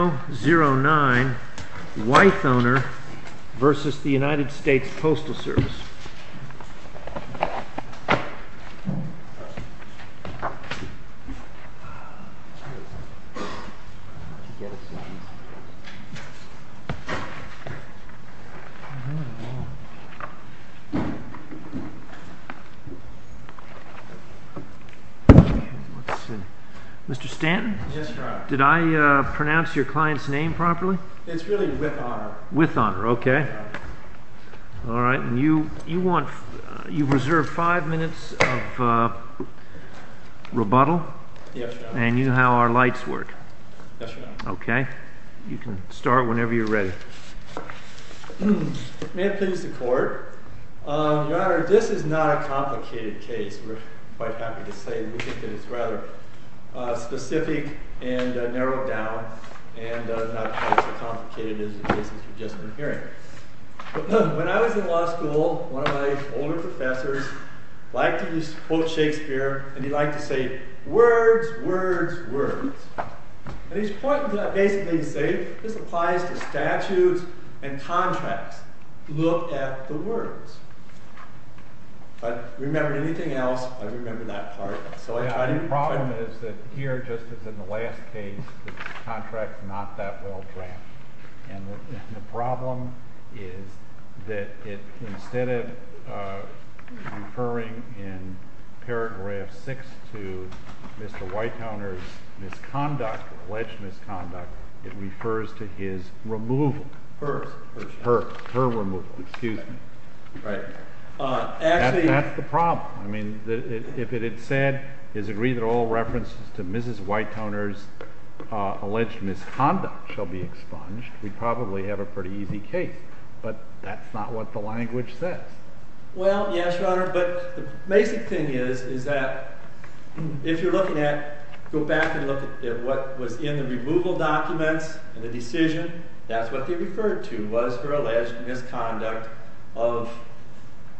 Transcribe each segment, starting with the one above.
009 Weithoner v. United States Postal Service Mr. Stanton, did I pronounce your client's name properly? It's really Weithoner. Weithoner, okay. All right, and you've reserved five minutes of rebuttal? Yes, Your Honor. And you know how our lights work? Yes, Your Honor. Okay, you can start whenever you're ready. May it please the Court, Your Honor, this is not a complicated case. We're quite happy to say we think that it's rather specific and narrowed down and not quite so complicated as the cases you've just been hearing. When I was in law school, one of my older professors liked to quote Shakespeare and he liked to say, words, words, words. And he's pointing to that basically to say this applies to statutes and contracts. Look at the words. If I remembered anything else, I remember that part. The problem is that here, just as in the last case, the contract is not that well drafted. And the problem is that instead of referring in paragraph 6 to Mr. Weithoner's misconduct, alleged misconduct, it refers to his removal. Her. Her removal, excuse me. Right. That's the problem. I mean, if it had said, is agreed that all references to Mrs. Weithoner's alleged misconduct shall be expunged, we'd probably have a pretty easy case. But that's not what the language says. Well, yes, Your Honor, but the basic thing is that if you're looking at, go back and look at what was in the removal documents and the decision, that's what they referred to was her alleged misconduct of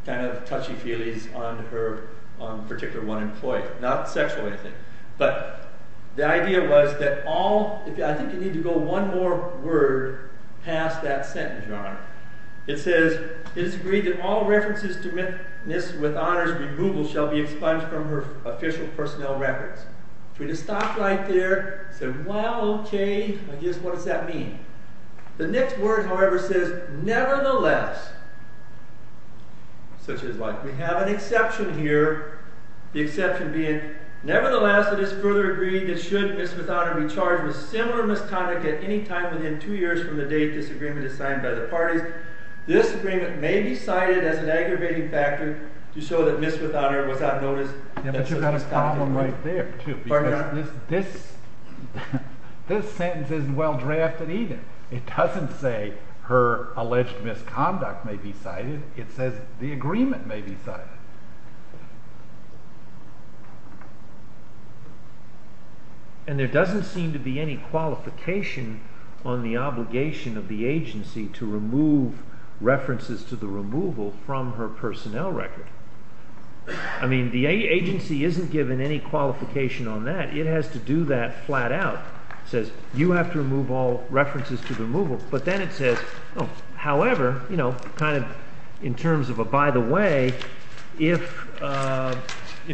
kind of touchy-feelys on her particular one employee. Not sexual anything. But the idea was that all, I think you need to go one more word past that sentence, Your Honor. It says, it is agreed that all references to Mrs. Weithoner's removal shall be expunged from her official personnel records. If we just stop right there and say, well, okay, I guess what does that mean? The next word, however, says, nevertheless, such as like we have an exception here, the exception being, nevertheless, it is further agreed that should Mrs. Weithoner be charged with similar misconduct at any time within two years from the date this agreement is signed by the parties, this agreement may be cited as an aggravating factor to show that Mrs. Weithoner was not noticed. But you've got a problem right there, too, because this sentence isn't well drafted either. It doesn't say her alleged misconduct may be cited. It says the agreement may be cited. And there doesn't seem to be any qualification on the obligation of the agency to remove references to the removal from her personnel record. I mean, the agency isn't given any qualification on that. It has to do that flat out. It says, you have to remove all references to the removal. But then it says, oh, however, kind of in terms of a by the way, if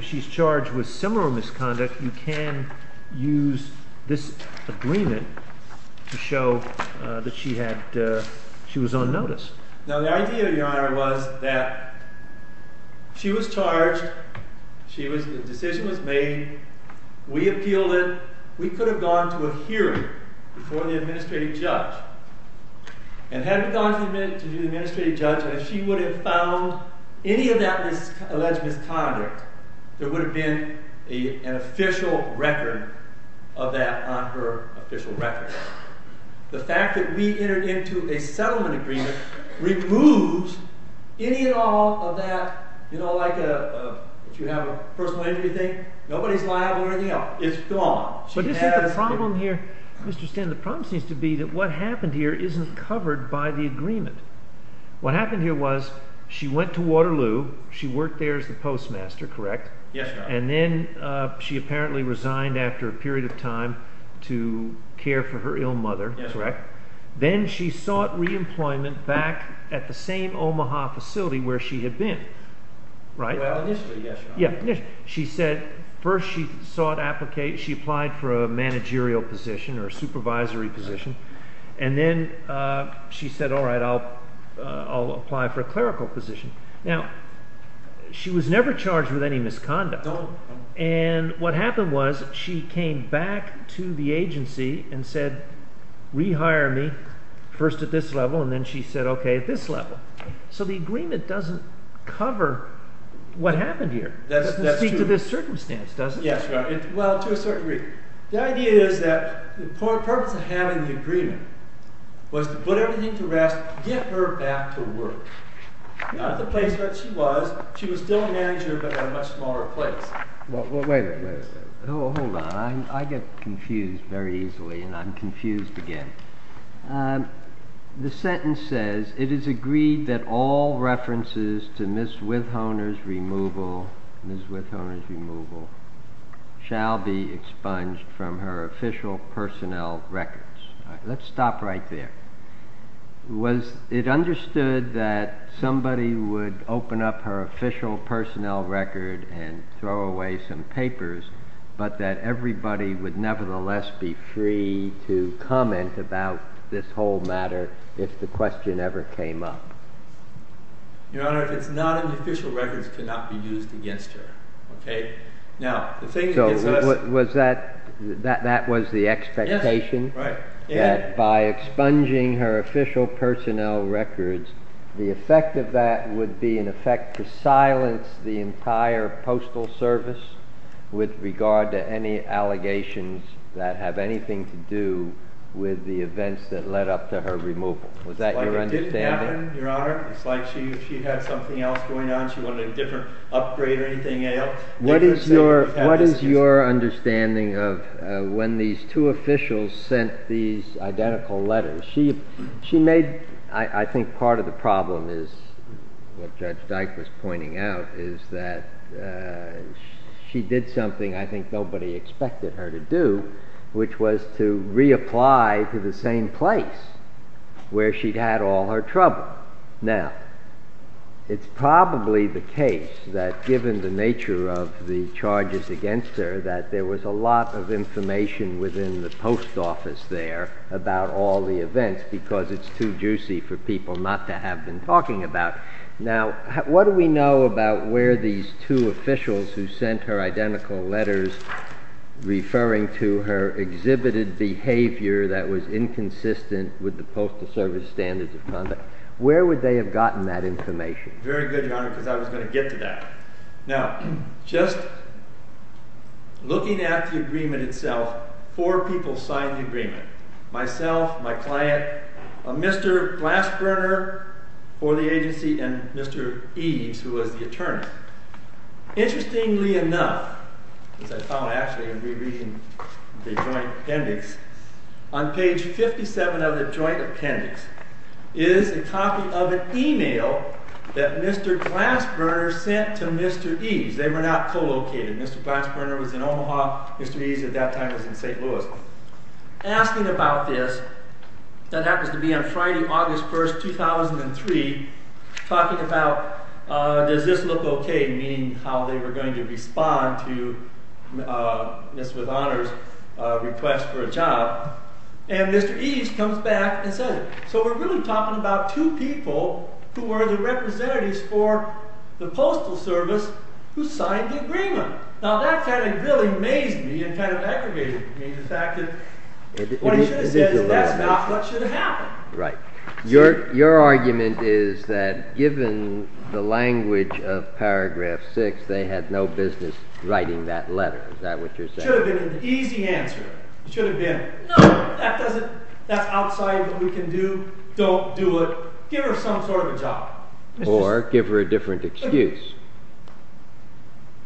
she's charged with similar misconduct, you can use this agreement to show that she was on notice. Now, the idea, Your Honor, was that she was charged. The decision was made. We appealed it. We could have gone to a hearing before the administrative judge. And had we gone to the administrative judge and she would have found any of that alleged misconduct, there would have been an official record of that on her official record. The fact that we entered into a settlement agreement removes any and all of that, you know, like if you have a personal injury thing, nobody's liable or anything else. It's gone. But isn't the problem here, Mr. Stinn, the problem seems to be that what happened here isn't covered by the agreement. What happened here was she went to Waterloo. She worked there as the postmaster, correct? Yes, Your Honor. And then she apparently resigned after a period of time to care for her ill mother, correct? Yes, Your Honor. Then she sought reemployment back at the same Omaha facility where she had been, right? Well, initially, yes, Your Honor. Yeah, initially. She said first she sought – she applied for a managerial position or a supervisory position. And then she said, all right, I'll apply for a clerical position. Now, she was never charged with any misconduct. No. And what happened was she came back to the agency and said, rehire me first at this level, and then she said, okay, at this level. So the agreement doesn't cover what happened here. That's true. It doesn't speak to this circumstance, does it? Yes, Your Honor. Well, to a certain degree. The idea is that the purpose of having the agreement was to put everything to rest, get her back to work. Not at the place where she was. She was still a manager, but at a much smaller place. Well, wait a minute. Hold on. I get confused very easily, and I'm confused again. The sentence says, it is agreed that all references to Ms. Withhoner's removal shall be expunged from her official personnel records. Let's stop right there. Was it understood that somebody would open up her official personnel record and throw away some papers, but that everybody would nevertheless be free to comment about this whole matter if the question ever came up? Your Honor, it's not in the official records to not be used against her. So that was the expectation? Yes. That by expunging her official personnel records, the effect of that would be an effect to silence the entire Postal Service with regard to any allegations that have anything to do with the events that led up to her removal. Was that your understanding? It didn't happen, Your Honor. It's like she had something else going on. She wanted a different upgrade or anything else. What is your understanding of when these two officials sent these identical letters? I think part of the problem is what Judge Dyke was pointing out, is that she did something I think nobody expected her to do, which was to reapply to the same place where she'd had all her trouble. Now, it's probably the case that given the nature of the charges against her that there was a lot of information within the post office there about all the events because it's too juicy for people not to have been talking about. Now, what do we know about where these two officials who sent her identical letters referring to her exhibited behavior that was inconsistent with the Postal Service standards of conduct, where would they have gotten that information? Very good, Your Honor, because I was going to get to that. Now, just looking at the agreement itself, four people signed the agreement, myself, my client, Mr. Glassburner for the agency, and Mr. Eves, who was the attorney. Interestingly enough, as I found actually in rereading the joint appendix, on page 57 of the joint appendix is a copy of an email that Mr. Glassburner sent to Mr. Eves. They were not co-located. Mr. Glassburner was in Omaha, Mr. Eves at that time was in St. Louis. Asking about this, that happens to be on Friday, August 1st, 2003, talking about does this look okay, meaning how they were going to respond to Ms. With Honor's request for a job, and Mr. Eves comes back and says it. So we're really talking about two people who were the representatives for the Postal Service who signed the agreement. Now, that kind of really amazed me and kind of aggravated me, the fact that what he should have said is that's not what should have happened. Right. Your argument is that given the language of paragraph 6, they had no business writing that letter, is that what you're saying? That should have been an easy answer. It should have been, no, that's outside what we can do, don't do it, give her some sort of a job. Or give her a different excuse.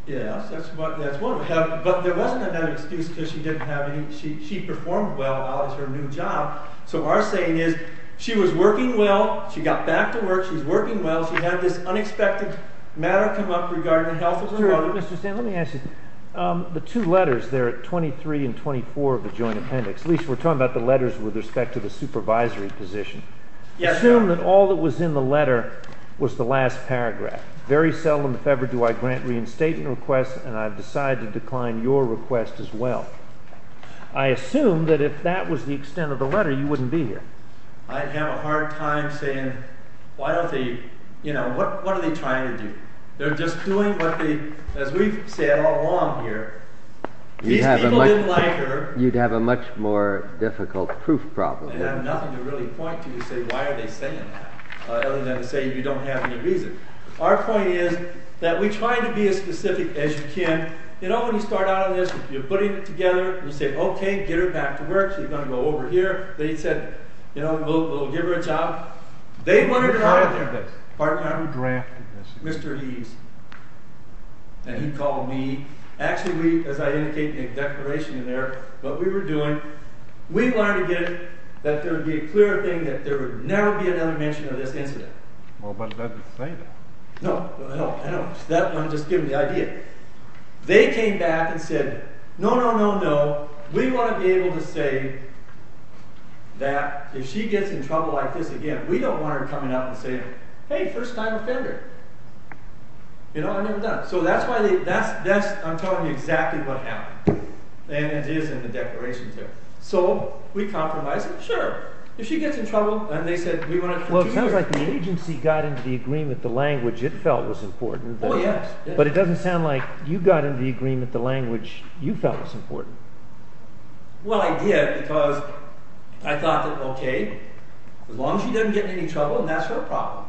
Yes, that's one of them. But there wasn't another excuse because she didn't have any, she performed well as her new job. So our saying is she was working well, she got back to work, she's working well, she had this unexpected matter come up regarding the health of her mother. Mr. Stanton, let me ask you, the two letters there, 23 and 24 of the joint appendix, at least we're talking about the letters with respect to the supervisory position. Assume that all that was in the letter was the last paragraph. Very seldom, if ever, do I grant reinstatement requests and I've decided to decline your request as well. I assume that if that was the extent of the letter, you wouldn't be here. I'd have a hard time saying, what are they trying to do? They're just doing what they, as we've said all along here, these people didn't like her. You'd have a much more difficult proof problem. I'd have nothing to really point to to say why are they saying that, other than to say you don't have any reason. Our point is that we try to be as specific as you can. You know when you start out on this, you're putting it together, you say okay, get her back to work, she's going to go over here. They said, you know, we'll give her a job. They wanted her out of there. Who drafted this? Mr. Eves. And he called me. Actually, as I indicated in the declaration in there, what we were doing, we wanted to get it that there would be a clearer thing that there would never be another mention of this incident. Well, but it doesn't say that. No, I don't. That wouldn't just give them the idea. They came back and said, no, no, no, no, we want to be able to say that if she gets in trouble like this again, we don't want her coming out and saying, hey, first time offender. You know, I've never done it. So that's why they, that's, I'm telling you exactly what happened. And it is in the declarations there. So, we compromise it, sure. If she gets in trouble, and they said, we want to. Well, it sounds like the agency got into the agreement, the language it felt was important. Oh, yes. But it doesn't sound like you got into the agreement, the language you felt was important. Well, I did because I thought that, okay, as long as she doesn't get in any trouble, and that's her problem.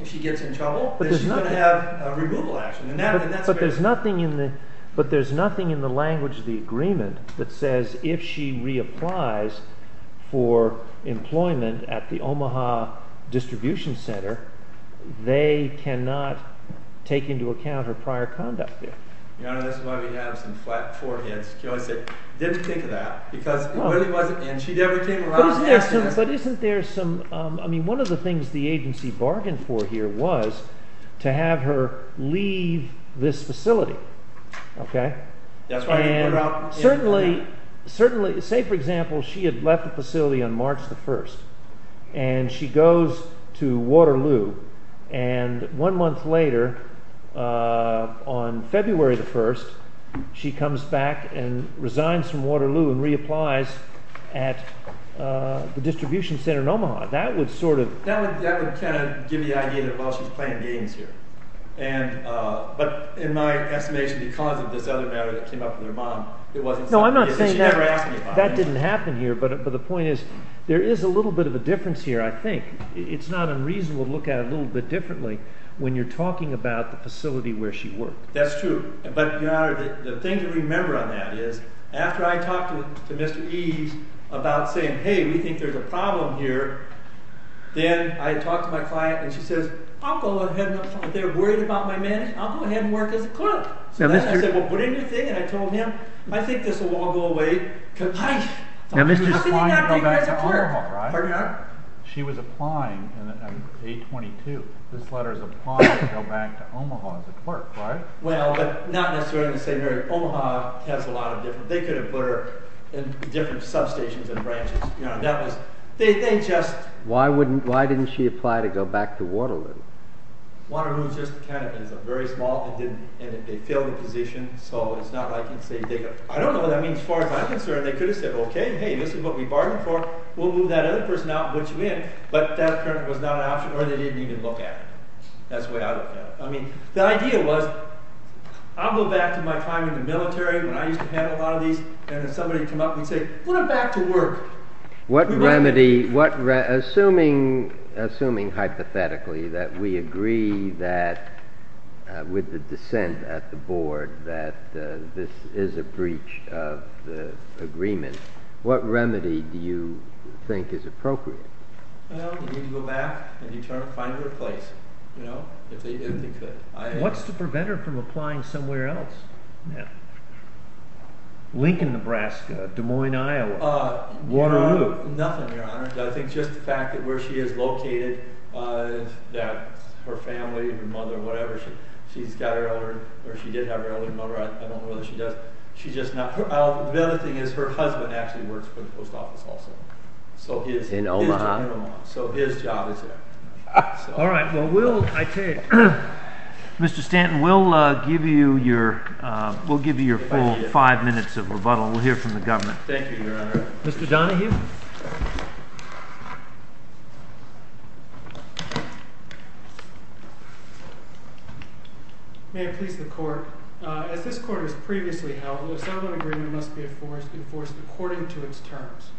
If she gets in trouble, then she's going to have a removal action. But there's nothing in the language of the agreement that says if she reapplies for employment at the Omaha distribution center, they cannot take into account her prior conduct there. Your Honor, that's why we have some flat foreheads. I didn't think of that. But isn't there some, I mean, one of the things the agency bargained for here was to have her leave this facility. Okay. That's right. Certainly, say, for example, she had left the facility on March the 1st, and she goes to Waterloo, and one month later, on February the 1st, she comes back and resigns from Waterloo and reapplies at the distribution center in Omaha. That would sort of… But in my estimation, because of this other matter that came up with her mom, it wasn't something… No, I'm not saying that. She never asked me about it. That didn't happen here, but the point is there is a little bit of a difference here, I think. It's not unreasonable to look at it a little bit differently when you're talking about the facility where she worked. That's true. But, Your Honor, the thing to remember on that is after I talked to Mr. Eves about saying, hey, we think there's a problem here, then I talked to my client, and she says, I'll go ahead and, if they're worried about my management, I'll go ahead and work as a clerk. So then I said, well, put in your thing, and I told him, I think this will all go away. How can you not take her as a clerk? Pardon me, Your Honor? She was applying on day 22. This letter is applying to go back to Omaha as a clerk, right? Well, but not necessarily the same area. Omaha has a lot of different…they could have put her in different substations and branches. That was…they just… Why didn't she apply to go back to Waterloo? Waterloo just kind of is a very small…and they failed the position, so it's not like, I don't know what that means. As far as I'm concerned, they could have said, okay, hey, this is what we bargained for. We'll move that other person out and put you in, but that was not an option, or they didn't even look at it. That's the way I look at it. I mean, the idea was, I'll go back to my time in the military when I used to handle a lot of these, and if somebody came up and said, put him back to work. What remedy…assuming hypothetically that we agree that with the dissent at the board that this is a breach of the agreement, what remedy do you think is appropriate? Well, you need to go back and find her a place, you know, if they could. What's to prevent her from applying somewhere else now? Lincoln, Nebraska, Des Moines, Iowa, Waterloo? Nothing, Your Honor. I think just the fact that where she is located, that her family, her mother, whatever, she's got her elder…or she did have her elder mother. I don't know whether she does. She's just not…the other thing is her husband actually works for the post office also. In Omaha? In Omaha. So his job is there. All right. Well, we'll…I take it. Mr. Stanton, we'll give you your full five minutes of rebuttal. We'll hear from the government. Thank you, Your Honor. Mr. Donahue? May it please the court. As this court has previously held, the settlement agreement must be enforced according to its terms.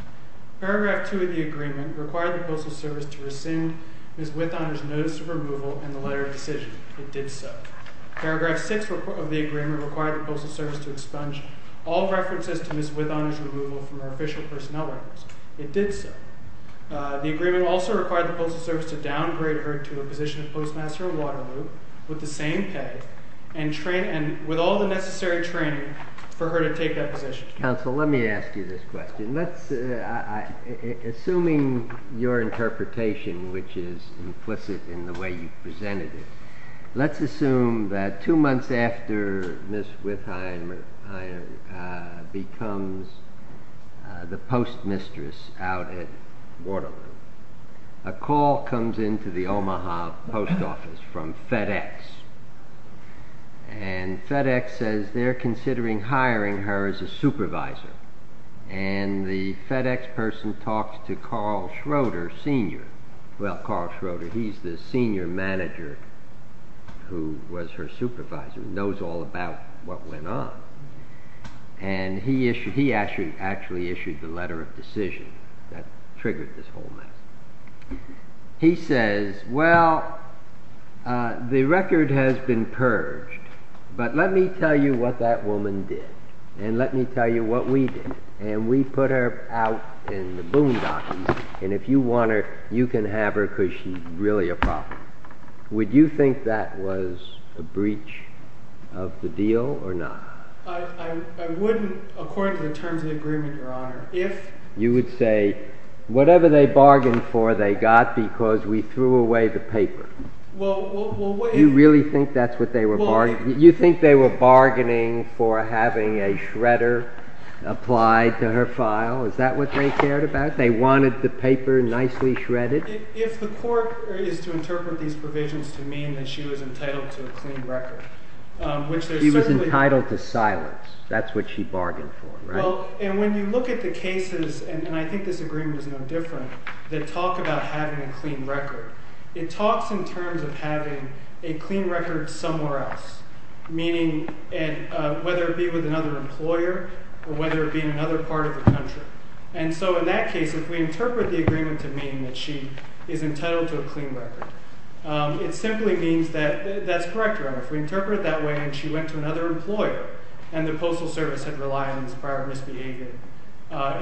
Paragraph 2 of the agreement required the Postal Service to rescind Ms. Withoner's notice of removal and the letter of decision. It did so. Paragraph 6 of the agreement required the Postal Service to expunge all references to Ms. Withoner's removal from her official personnel records. It did so. The agreement also required the Postal Service to downgrade her to a position of Postmaster of Waterloo with the same pay and with all the necessary training for her to take that position. Counsel, let me ask you this question. Assuming your interpretation, which is implicit in the way you presented it, let's assume that two months after Ms. Withoner becomes the Postmistress out at Waterloo, a call comes in to the Omaha Post Office from FedEx, and FedEx says they're considering hiring her as a supervisor, and the FedEx person talks to Carl Schroeder, Sr. who was her supervisor and knows all about what went on, and he actually issued the letter of decision that triggered this whole mess. He says, well, the record has been purged, but let me tell you what that woman did, and let me tell you what we did. And we put her out in the boondockies, and if you want her, you can have her because she's really a problem. Would you think that was a breach of the deal or not? I wouldn't, according to the terms of the agreement, Your Honor. You would say, whatever they bargained for, they got because we threw away the paper. You really think that's what they were bargaining? You think they were bargaining for having a shredder applied to her file? Is that what they cared about? They wanted the paper nicely shredded? If the court is to interpret these provisions to mean that she was entitled to a clean record, which there's certainly… She was entitled to silence. That's what she bargained for, right? Well, and when you look at the cases, and I think this agreement is no different, that talk about having a clean record, it talks in terms of having a clean record somewhere else, meaning whether it be with another employer or whether it be in another part of the country. And so in that case, if we interpret the agreement to mean that she is entitled to a clean record, it simply means that that's correct, Your Honor. If we interpret it that way and she went to another employer and the postal service had relied on this prior misbehavior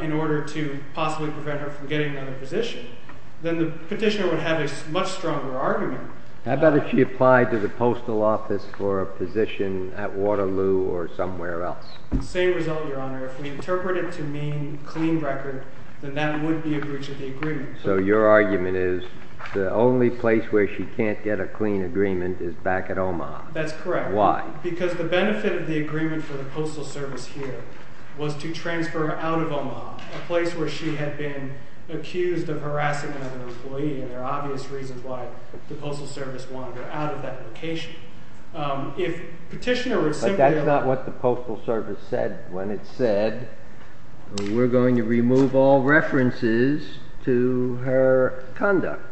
in order to possibly prevent her from getting another position, then the petitioner would have a much stronger argument. How about if she applied to the postal office for a position at Waterloo or somewhere else? Same result, Your Honor. If we interpret it to mean clean record, then that would be a breach of the agreement. So your argument is the only place where she can't get a clean agreement is back at Omaha? That's correct. Why? Because the benefit of the agreement for the postal service here was to transfer her out of Omaha, a place where she had been accused of harassing another employee, and there are obvious reasons why the postal service wanted her out of that location. But that's not what the postal service said when it said, we're going to remove all references to her conduct.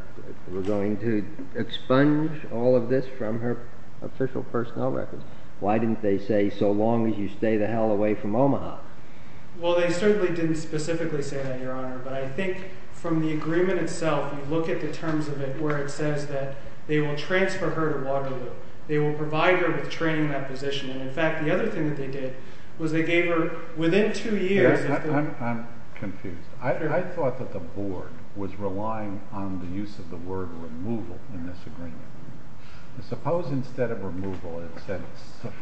We're going to expunge all of this from her official personnel records. Why didn't they say, so long as you stay the hell away from Omaha? Well, they certainly didn't specifically say that, Your Honor. But I think from the agreement itself, you look at the terms of it where it says that they will transfer her to Waterloo. They will provide her with training in that position. And in fact, the other thing that they did was they gave her, within two years… I'm confused. I thought that the board was relying on the use of the word removal in this agreement. Suppose instead of removal it said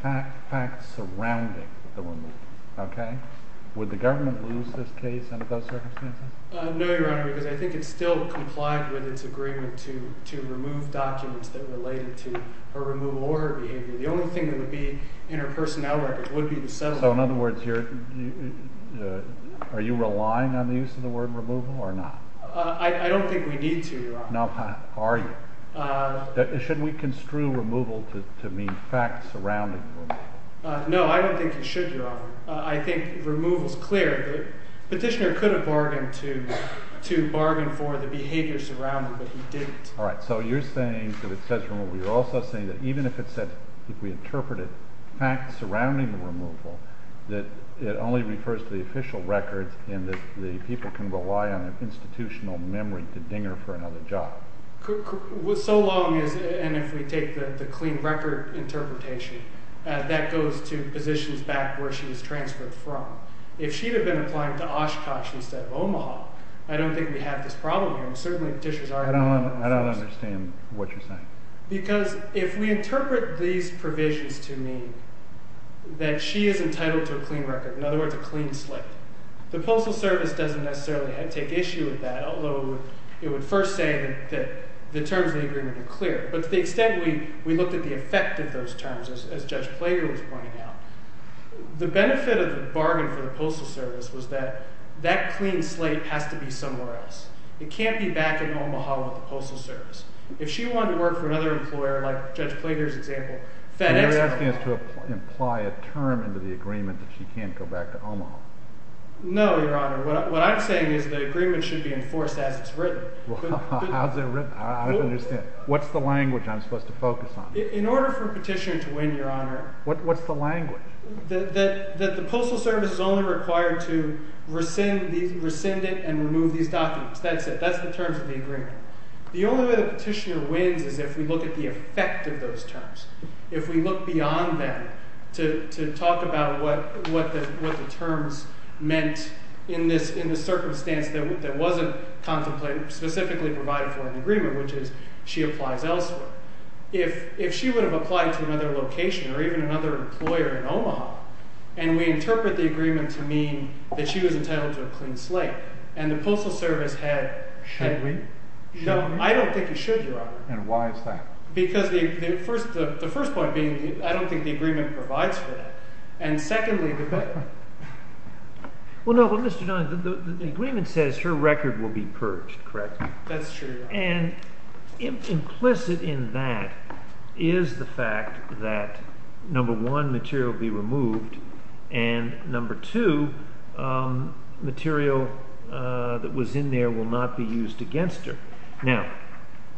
facts surrounding the removal. Okay? Would the government lose this case under those circumstances? No, Your Honor, because I think it still complied with its agreement to remove documents that related to her removal or her behavior. The only thing that would be in her personnel records would be the settlement. So in other words, are you relying on the use of the word removal or not? I don't think we need to, Your Honor. Should we construe removal to mean facts surrounding the removal? No, I don't think you should, Your Honor. I think removal is clear. The petitioner could have bargained to bargain for the behavior surrounding, but he didn't. All right. So you're saying that it says removal. You're also saying that even if it said – if we interpret it – facts surrounding the removal, that it only refers to the official records and that the people can rely on an institutional memory to ding her for another job. So long as – and if we take the clean record interpretation, that goes to positions back where she was transferred from. If she had been applying to Oshkosh instead of Omaha, I don't think we'd have this problem here. And certainly petitioners are – I don't understand what you're saying. Because if we interpret these provisions to mean that she is entitled to a clean record, in other words, a clean slate, the Postal Service doesn't necessarily take issue with that, although it would first say that the terms of the agreement are clear. But to the extent we looked at the effect of those terms, as Judge Plager was pointing out, the benefit of the bargain for the Postal Service was that that clean slate has to be somewhere else. It can't be back in Omaha with the Postal Service. If she wanted to work for another employer, like Judge Plager's example – You're asking us to imply a term into the agreement that she can't go back to Omaha. No, Your Honor. What I'm saying is the agreement should be enforced as it's written. How's it written? I don't understand. What's the language I'm supposed to focus on? In order for a petitioner to win, Your Honor – What's the language? That the Postal Service is only required to rescind it and remove these documents. That's it. That's the terms of the agreement. The only way the petitioner wins is if we look at the effect of those terms. If we look beyond that to talk about what the terms meant in the circumstance that wasn't contemplated, specifically provided for in the agreement, which is she applies elsewhere. If she would have applied to another location or even another employer in Omaha, and we interpret the agreement to mean that she was entitled to a clean slate, and the Postal Service had – Should we? No, I don't think you should, Your Honor. And why is that? Because the first point being I don't think the agreement provides for that. And secondly, because – Well, no, but Mr. Donahue, the agreement says her record will be purged, correct? That's true, Your Honor. And implicit in that is the fact that, number one, material will be removed, and, number two, material that was in there will not be used against her. Now,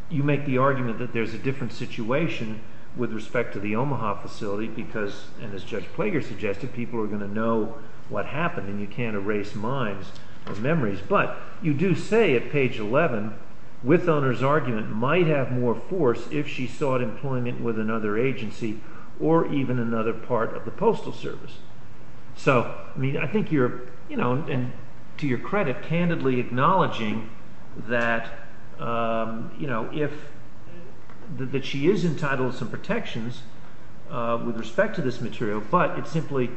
you make the argument that there's a different situation with respect to the Omaha facility because, and as Judge Plager suggested, people are going to know what happened, and you can't erase mimes or memories. But you do say at page 11, with owner's argument, might have more force if she sought employment with another agency or even another part of the Postal Service. So, I mean, I think you're, you know, and to your credit, candidly acknowledging that, you know, that she is entitled to some protections with respect to this material, but it's simply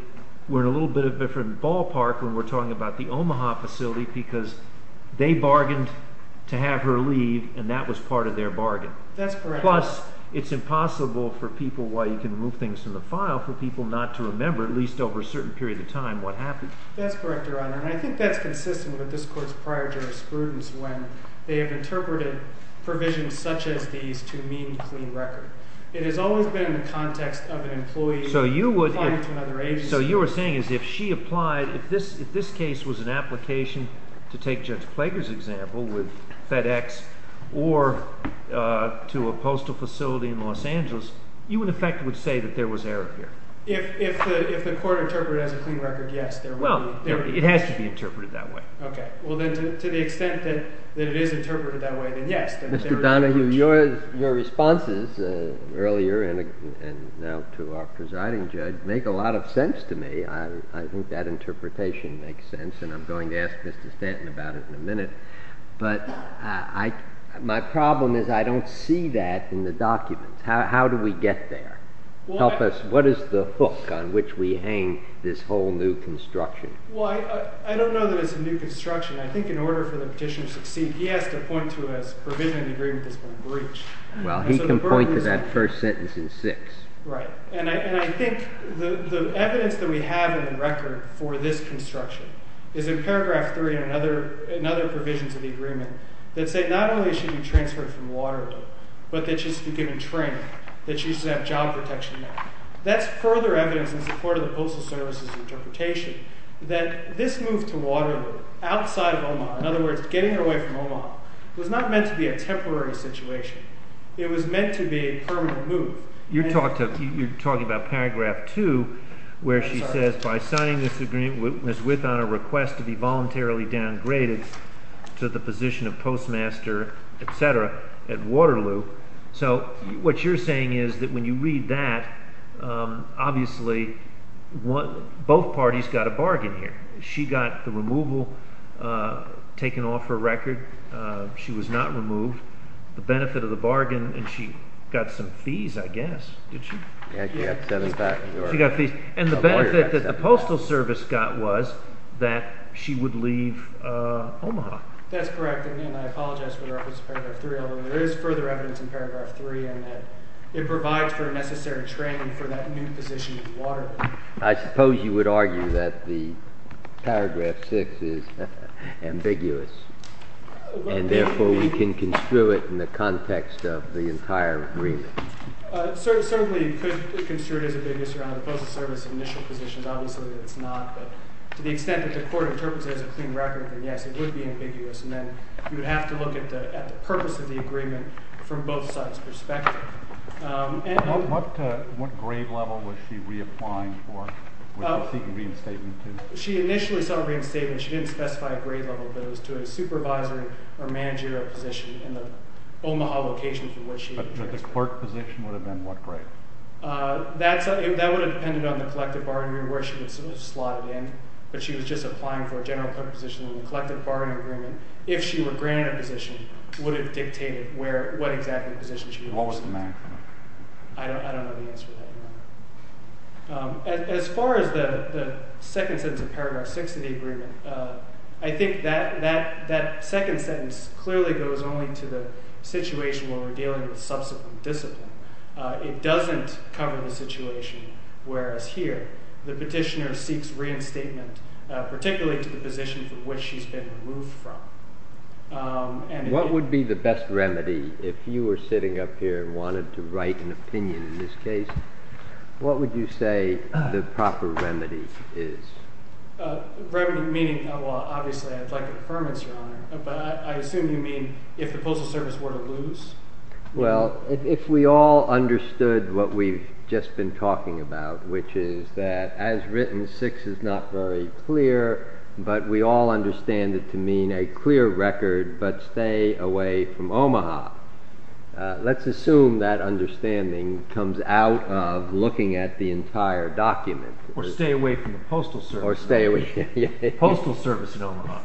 we're in a little bit of a different ballpark when we're talking about the Omaha facility because they bargained to have her leave, and that was part of their bargain. That's correct. Plus, it's impossible for people, while you can remove things from the file, for people not to remember, at least over a certain period of time, what happened. That's correct, Your Honor. And I think that's consistent with this Court's prior jurisprudence when they have interpreted provisions such as these to mean clean record. It has always been in the context of an employee applying to another agency. And so you're saying is if she applied, if this case was an application, to take Judge Plager's example with FedEx or to a postal facility in Los Angeles, you in effect would say that there was error here. If the Court interpreted it as a clean record, yes, there would be. Well, it has to be interpreted that way. Okay. Well, then to the extent that it is interpreted that way, then yes. Mr. Donohue, your responses earlier and now to our presiding judge make a lot of sense to me. I think that interpretation makes sense, and I'm going to ask Mr. Stanton about it in a minute. But my problem is I don't see that in the documents. How do we get there? What is the hook on which we hang this whole new construction? Well, I don't know that it's a new construction. I think in order for the petitioner to succeed, he has to point to a provision in the agreement that's been breached. Well, he can point to that first sentence in 6. Right. And I think the evidence that we have in the record for this construction is in paragraph 3 and in other provisions of the agreement that say not only should she be transferred from Waterloo, but that she should be given training, that she should have job protection. That's further evidence in support of the Postal Service's interpretation that this move to Waterloo outside of Omaha, in other words, getting her away from Omaha, was not meant to be a temporary situation. It was meant to be a permanent move. You're talking about paragraph 2 where she says, By signing this agreement, Ms. Whithon, I request to be voluntarily downgraded to the position of postmaster, etc., at Waterloo. So, what you're saying is that when you read that, obviously, both parties got a bargain here. She got the removal taken off her record. She was not removed. The benefit of the bargain, and she got some fees, I guess, didn't she? Yes. She got fees. And the benefit that the Postal Service got was that she would leave Omaha. That's correct. And I apologize for the reference to paragraph 3, although there is further evidence in paragraph 3 in that it provides for necessary training for that new position at Waterloo. I suppose you would argue that the paragraph 6 is ambiguous, and therefore, we can construe it in the context of the entire agreement. Certainly, it could be construed as ambiguous around the Postal Service's initial positions. Obviously, it's not. But to the extent that the court interprets it as a clean record, then, yes, it would be ambiguous. And then you would have to look at the purpose of the agreement from both sides' perspective. What grade level was she reapplying for? Was she seeking reinstatement, too? She initially sought reinstatement. She didn't specify a grade level, but it was to a supervisory or managerial position in the Omaha location. But the clerk position would have been what grade? That would have depended on the collective bargaining agreement where she was slotted in. But she was just applying for a general clerk position in the collective bargaining agreement. If she were granted a position, would it dictate what exactly position she would have? What was the man coming? I don't know the answer to that. As far as the second sentence of paragraph 6 of the agreement, I think that second sentence clearly goes only to the situation where we're dealing with subsequent discipline. It doesn't cover the situation whereas here the petitioner seeks reinstatement, particularly to the position from which she's been removed from. What would be the best remedy if you were sitting up here and wanted to write an opinion in this case? What would you say the proper remedy is? Remedy meaning, well, obviously, I'd like a deferment, Your Honor. But I assume you mean if the Postal Service were to lose? Well, if we all understood what we've just been talking about, which is that, as written, 6 is not very clear, but we all understand it to mean a clear record, but stay away from Omaha. Let's assume that understanding comes out of looking at the entire document. Or stay away from the Postal Service. Or stay away from the Postal Service in Omaha.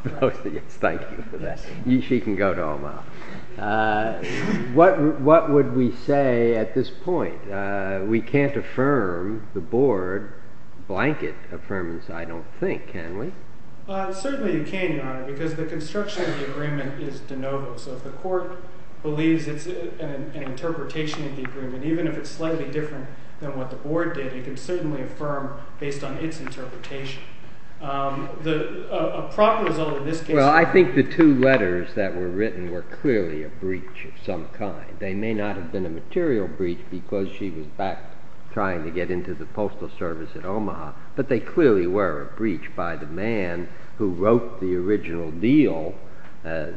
Thank you for that. She can go to Omaha. What would we say at this point? We can't affirm the board blanket affirmance, I don't think, can we? Certainly you can, Your Honor, because the construction of the agreement is de novo. So if the court believes it's an interpretation of the agreement, even if it's slightly different than what the board did, it can certainly affirm based on its interpretation. Well, I think the two letters that were written were clearly a breach of some kind. They may not have been a material breach because she was back trying to get into the Postal Service at Omaha, but they clearly were a breach by the man who wrote the original deal,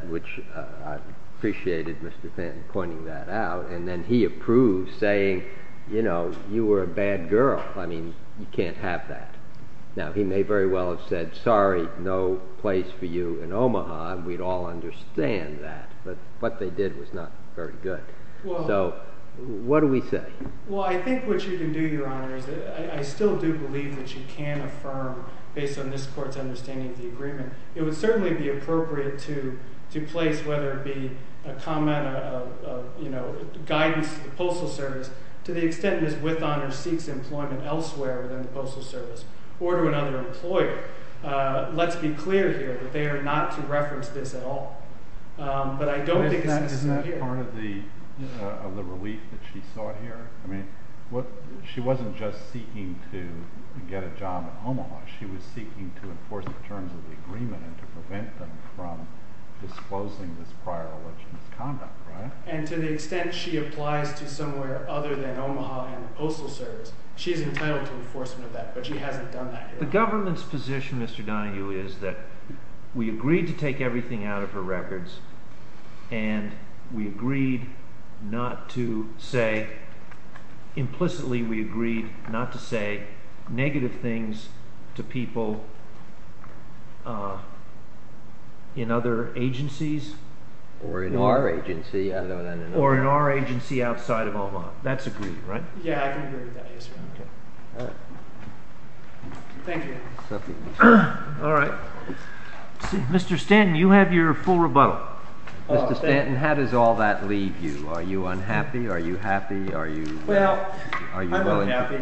which I appreciated Mr. Fenn pointing that out. And then he approved, saying, you know, you were a bad girl. I mean, you can't have that. Now, he may very well have said, sorry, no place for you in Omaha, and we'd all understand that. But what they did was not very good. So what do we say? Well, I think what you can do, Your Honor, is that I still do believe that you can affirm based on this court's understanding of the agreement. It would certainly be appropriate to place whether it be a comment of, you know, to the extent Ms. Withhonor seeks employment elsewhere within the Postal Service or to another employer. Let's be clear here that they are not to reference this at all. But I don't think it's necessary here. Isn't that part of the relief that she sought here? I mean, she wasn't just seeking to get a job at Omaha. She was seeking to enforce the terms of the agreement and to prevent them from disclosing this prior election's conduct, right? And to the extent she applies to somewhere other than Omaha and the Postal Service, she is entitled to enforcement of that, but she hasn't done that here. The government's position, Mr. Donahue, is that we agreed to take everything out of her records, and we agreed not to say, implicitly we agreed not to say negative things to people in other agencies? Or in our agency. Or in our agency outside of Omaha. That's agreed, right? Yeah, I can agree with that. Yes, sir. All right. Thank you. All right. Mr. Stanton, you have your full rebuttal. Mr. Stanton, how does all that leave you? Are you unhappy? Are you happy? Are you— Well, I'm unhappy.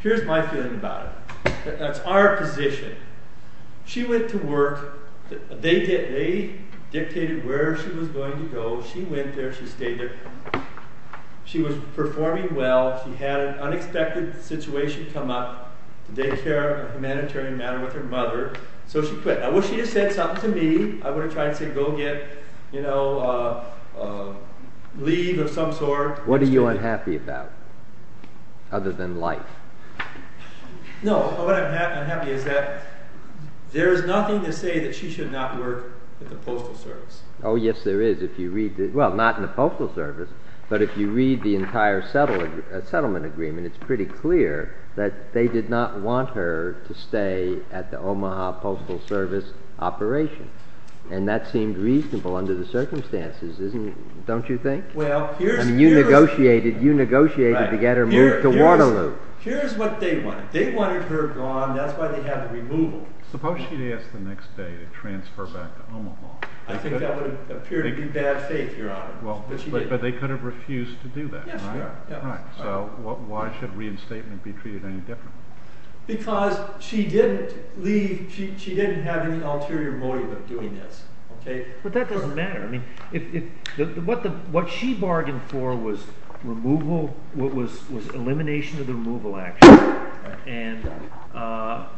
Here's my feeling about it. That's our position. She went to work. They dictated where she was going to go. She went there. She stayed there. She was performing well. She had an unexpected situation come up, a daycare, a humanitarian matter with her mother, so she quit. I wish she had said something to me. I would have tried to say, go get leave of some sort. What are you unhappy about, other than life? No, what I'm unhappy is that there is nothing to say that she should not work at the Postal Service. Oh, yes, there is. Well, not in the Postal Service, but if you read the entire settlement agreement, it's pretty clear that they did not want her to stay at the Omaha Postal Service operation. And that seemed reasonable under the circumstances, don't you think? You negotiated to get her moved to Waterloo. Here's what they wanted. They wanted her gone. That's why they had a removal. Suppose she'd asked the next day to transfer back to Omaha. I think that would appear to be bad faith, Your Honor. But they could have refused to do that, right? So why should reinstatement be treated any differently? Because she didn't have any ulterior motive of doing this. But that doesn't matter. What she bargained for was elimination of the removal action and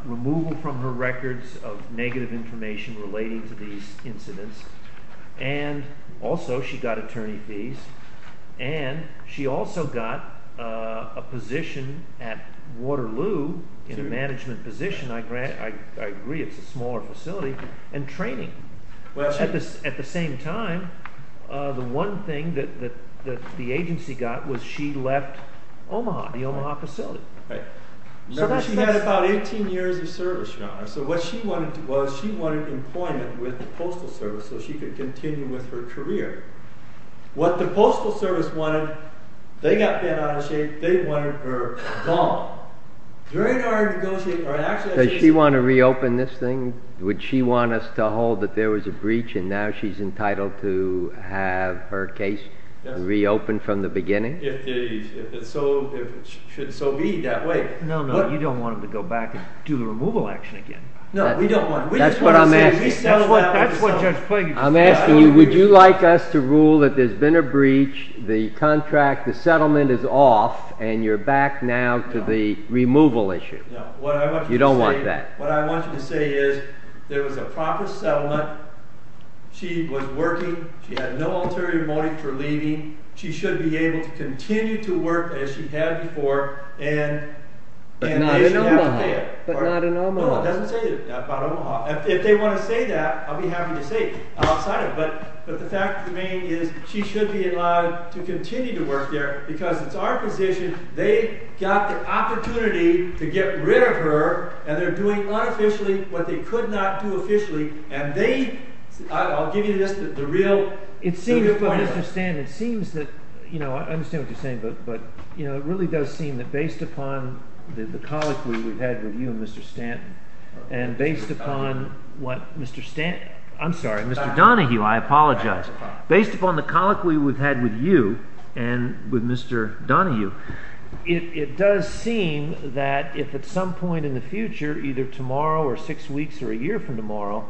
removal from her records of negative information relating to these incidents. And also she got attorney fees. And she also got a position at Waterloo in a management position. I agree it's a smaller facility. And training. At the same time, the one thing that the agency got was she left Omaha, the Omaha facility. She had about 18 years of service, Your Honor. So what she wanted was she wanted employment with the Postal Service so she could continue with her career. What the Postal Service wanted, they got Ben out of shape. They wanted her gone. Does she want to reopen this thing? Would she want us to hold that there was a breach and now she's entitled to have her case reopened from the beginning? If it should so be that way. No, no, you don't want them to go back and do the removal action again. No, we don't want to. That's what I'm asking. I'm asking you, would you like us to rule that there's been a breach, the contract, the settlement is off, and you're back now to the removal issue? No. You don't want that. What I want you to say is there was a proper settlement. She was working. She had no ulterior motive for leaving. She should be able to continue to work as she had before. But not in Omaha. No, it doesn't say that about Omaha. If they want to say that, I'll be happy to say it outside of it. But the fact of the matter is she should be allowed to continue to work there because it's our position they got the opportunity to get rid of her and they're doing unofficially what they could not do officially. And they, I'll give you this, the real truth of the matter. It seems, Mr. Stanton, it seems that, you know, I understand what you're saying, but it really does seem that based upon the colloquy we've had with you and Mr. Stanton and based upon what Mr. Stanton, I'm sorry, Mr. Donahue, I apologize, based upon the colloquy we've had with you and with Mr. Donahue, it does seem that if at some point in the future, either tomorrow or six weeks or a year from tomorrow,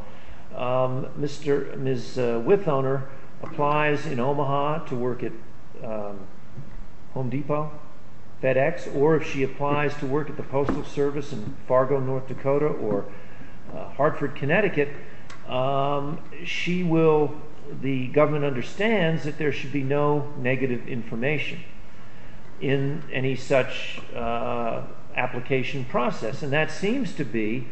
Ms. Whithoner applies in Omaha to work at Home Depot, FedEx, or if she applies to work at the Postal Service in Fargo, North Dakota, or Hartford, Connecticut, she will, the government understands that there should be no negative information in any such application process. And that seems to be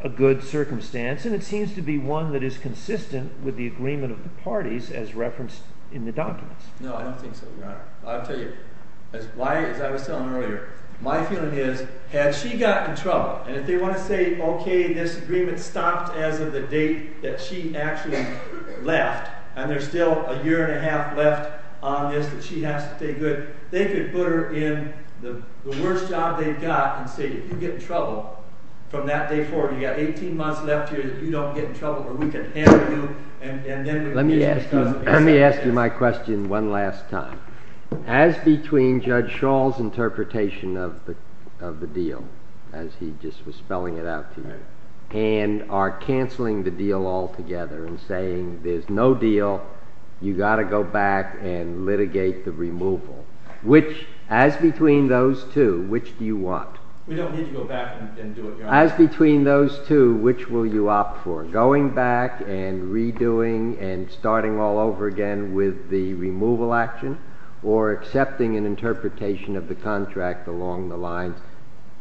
a good circumstance, and it seems to be one that is consistent with the agreement of the parties as referenced in the documents. No, I don't think so, Your Honor. I'll tell you, as I was telling earlier, my feeling is had she gotten in trouble and if they want to say, okay, this agreement stopped as of the date that she actually left, and there's still a year and a half left on this that she has to pay good, they could put her in the worst job they've got and say, if you get in trouble from that day forward, you've got 18 months left here that you don't get in trouble, or we can handle you, and then we can discuss it. Let me ask you my question one last time. As between Judge Schall's interpretation of the deal, as he just was spelling it out to you, and our canceling the deal altogether and saying there's no deal, you've got to go back and litigate the removal, as between those two, which do you want? We don't need to go back and do it, Your Honor. As between those two, which will you opt for, going back and redoing and starting all over again with the removal action or accepting an interpretation of the contract along the lines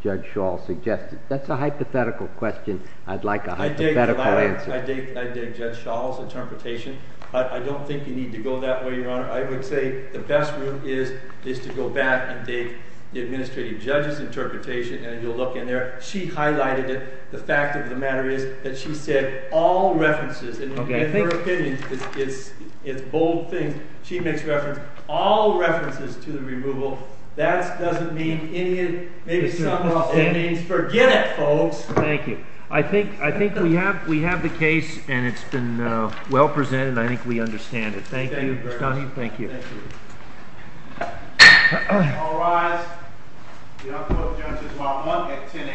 Judge Schall suggested? That's a hypothetical question. I'd like a hypothetical answer. I dig Judge Schall's interpretation, but I don't think you need to go that way, Your Honor. I would say the best route is to go back and dig the administrative judge's interpretation, and you'll look in there. She highlighted it. The fact of the matter is that she said all references. In her opinion, it's bold things. She makes reference to all references to the removal. That doesn't mean any of it. Maybe somehow it means forget it, folks. Thank you. I think we have the case, and it's been well presented, and I think we understand it. Thank you. Thank you. All rise. We'll call Judges 1-1 at 10 a.m.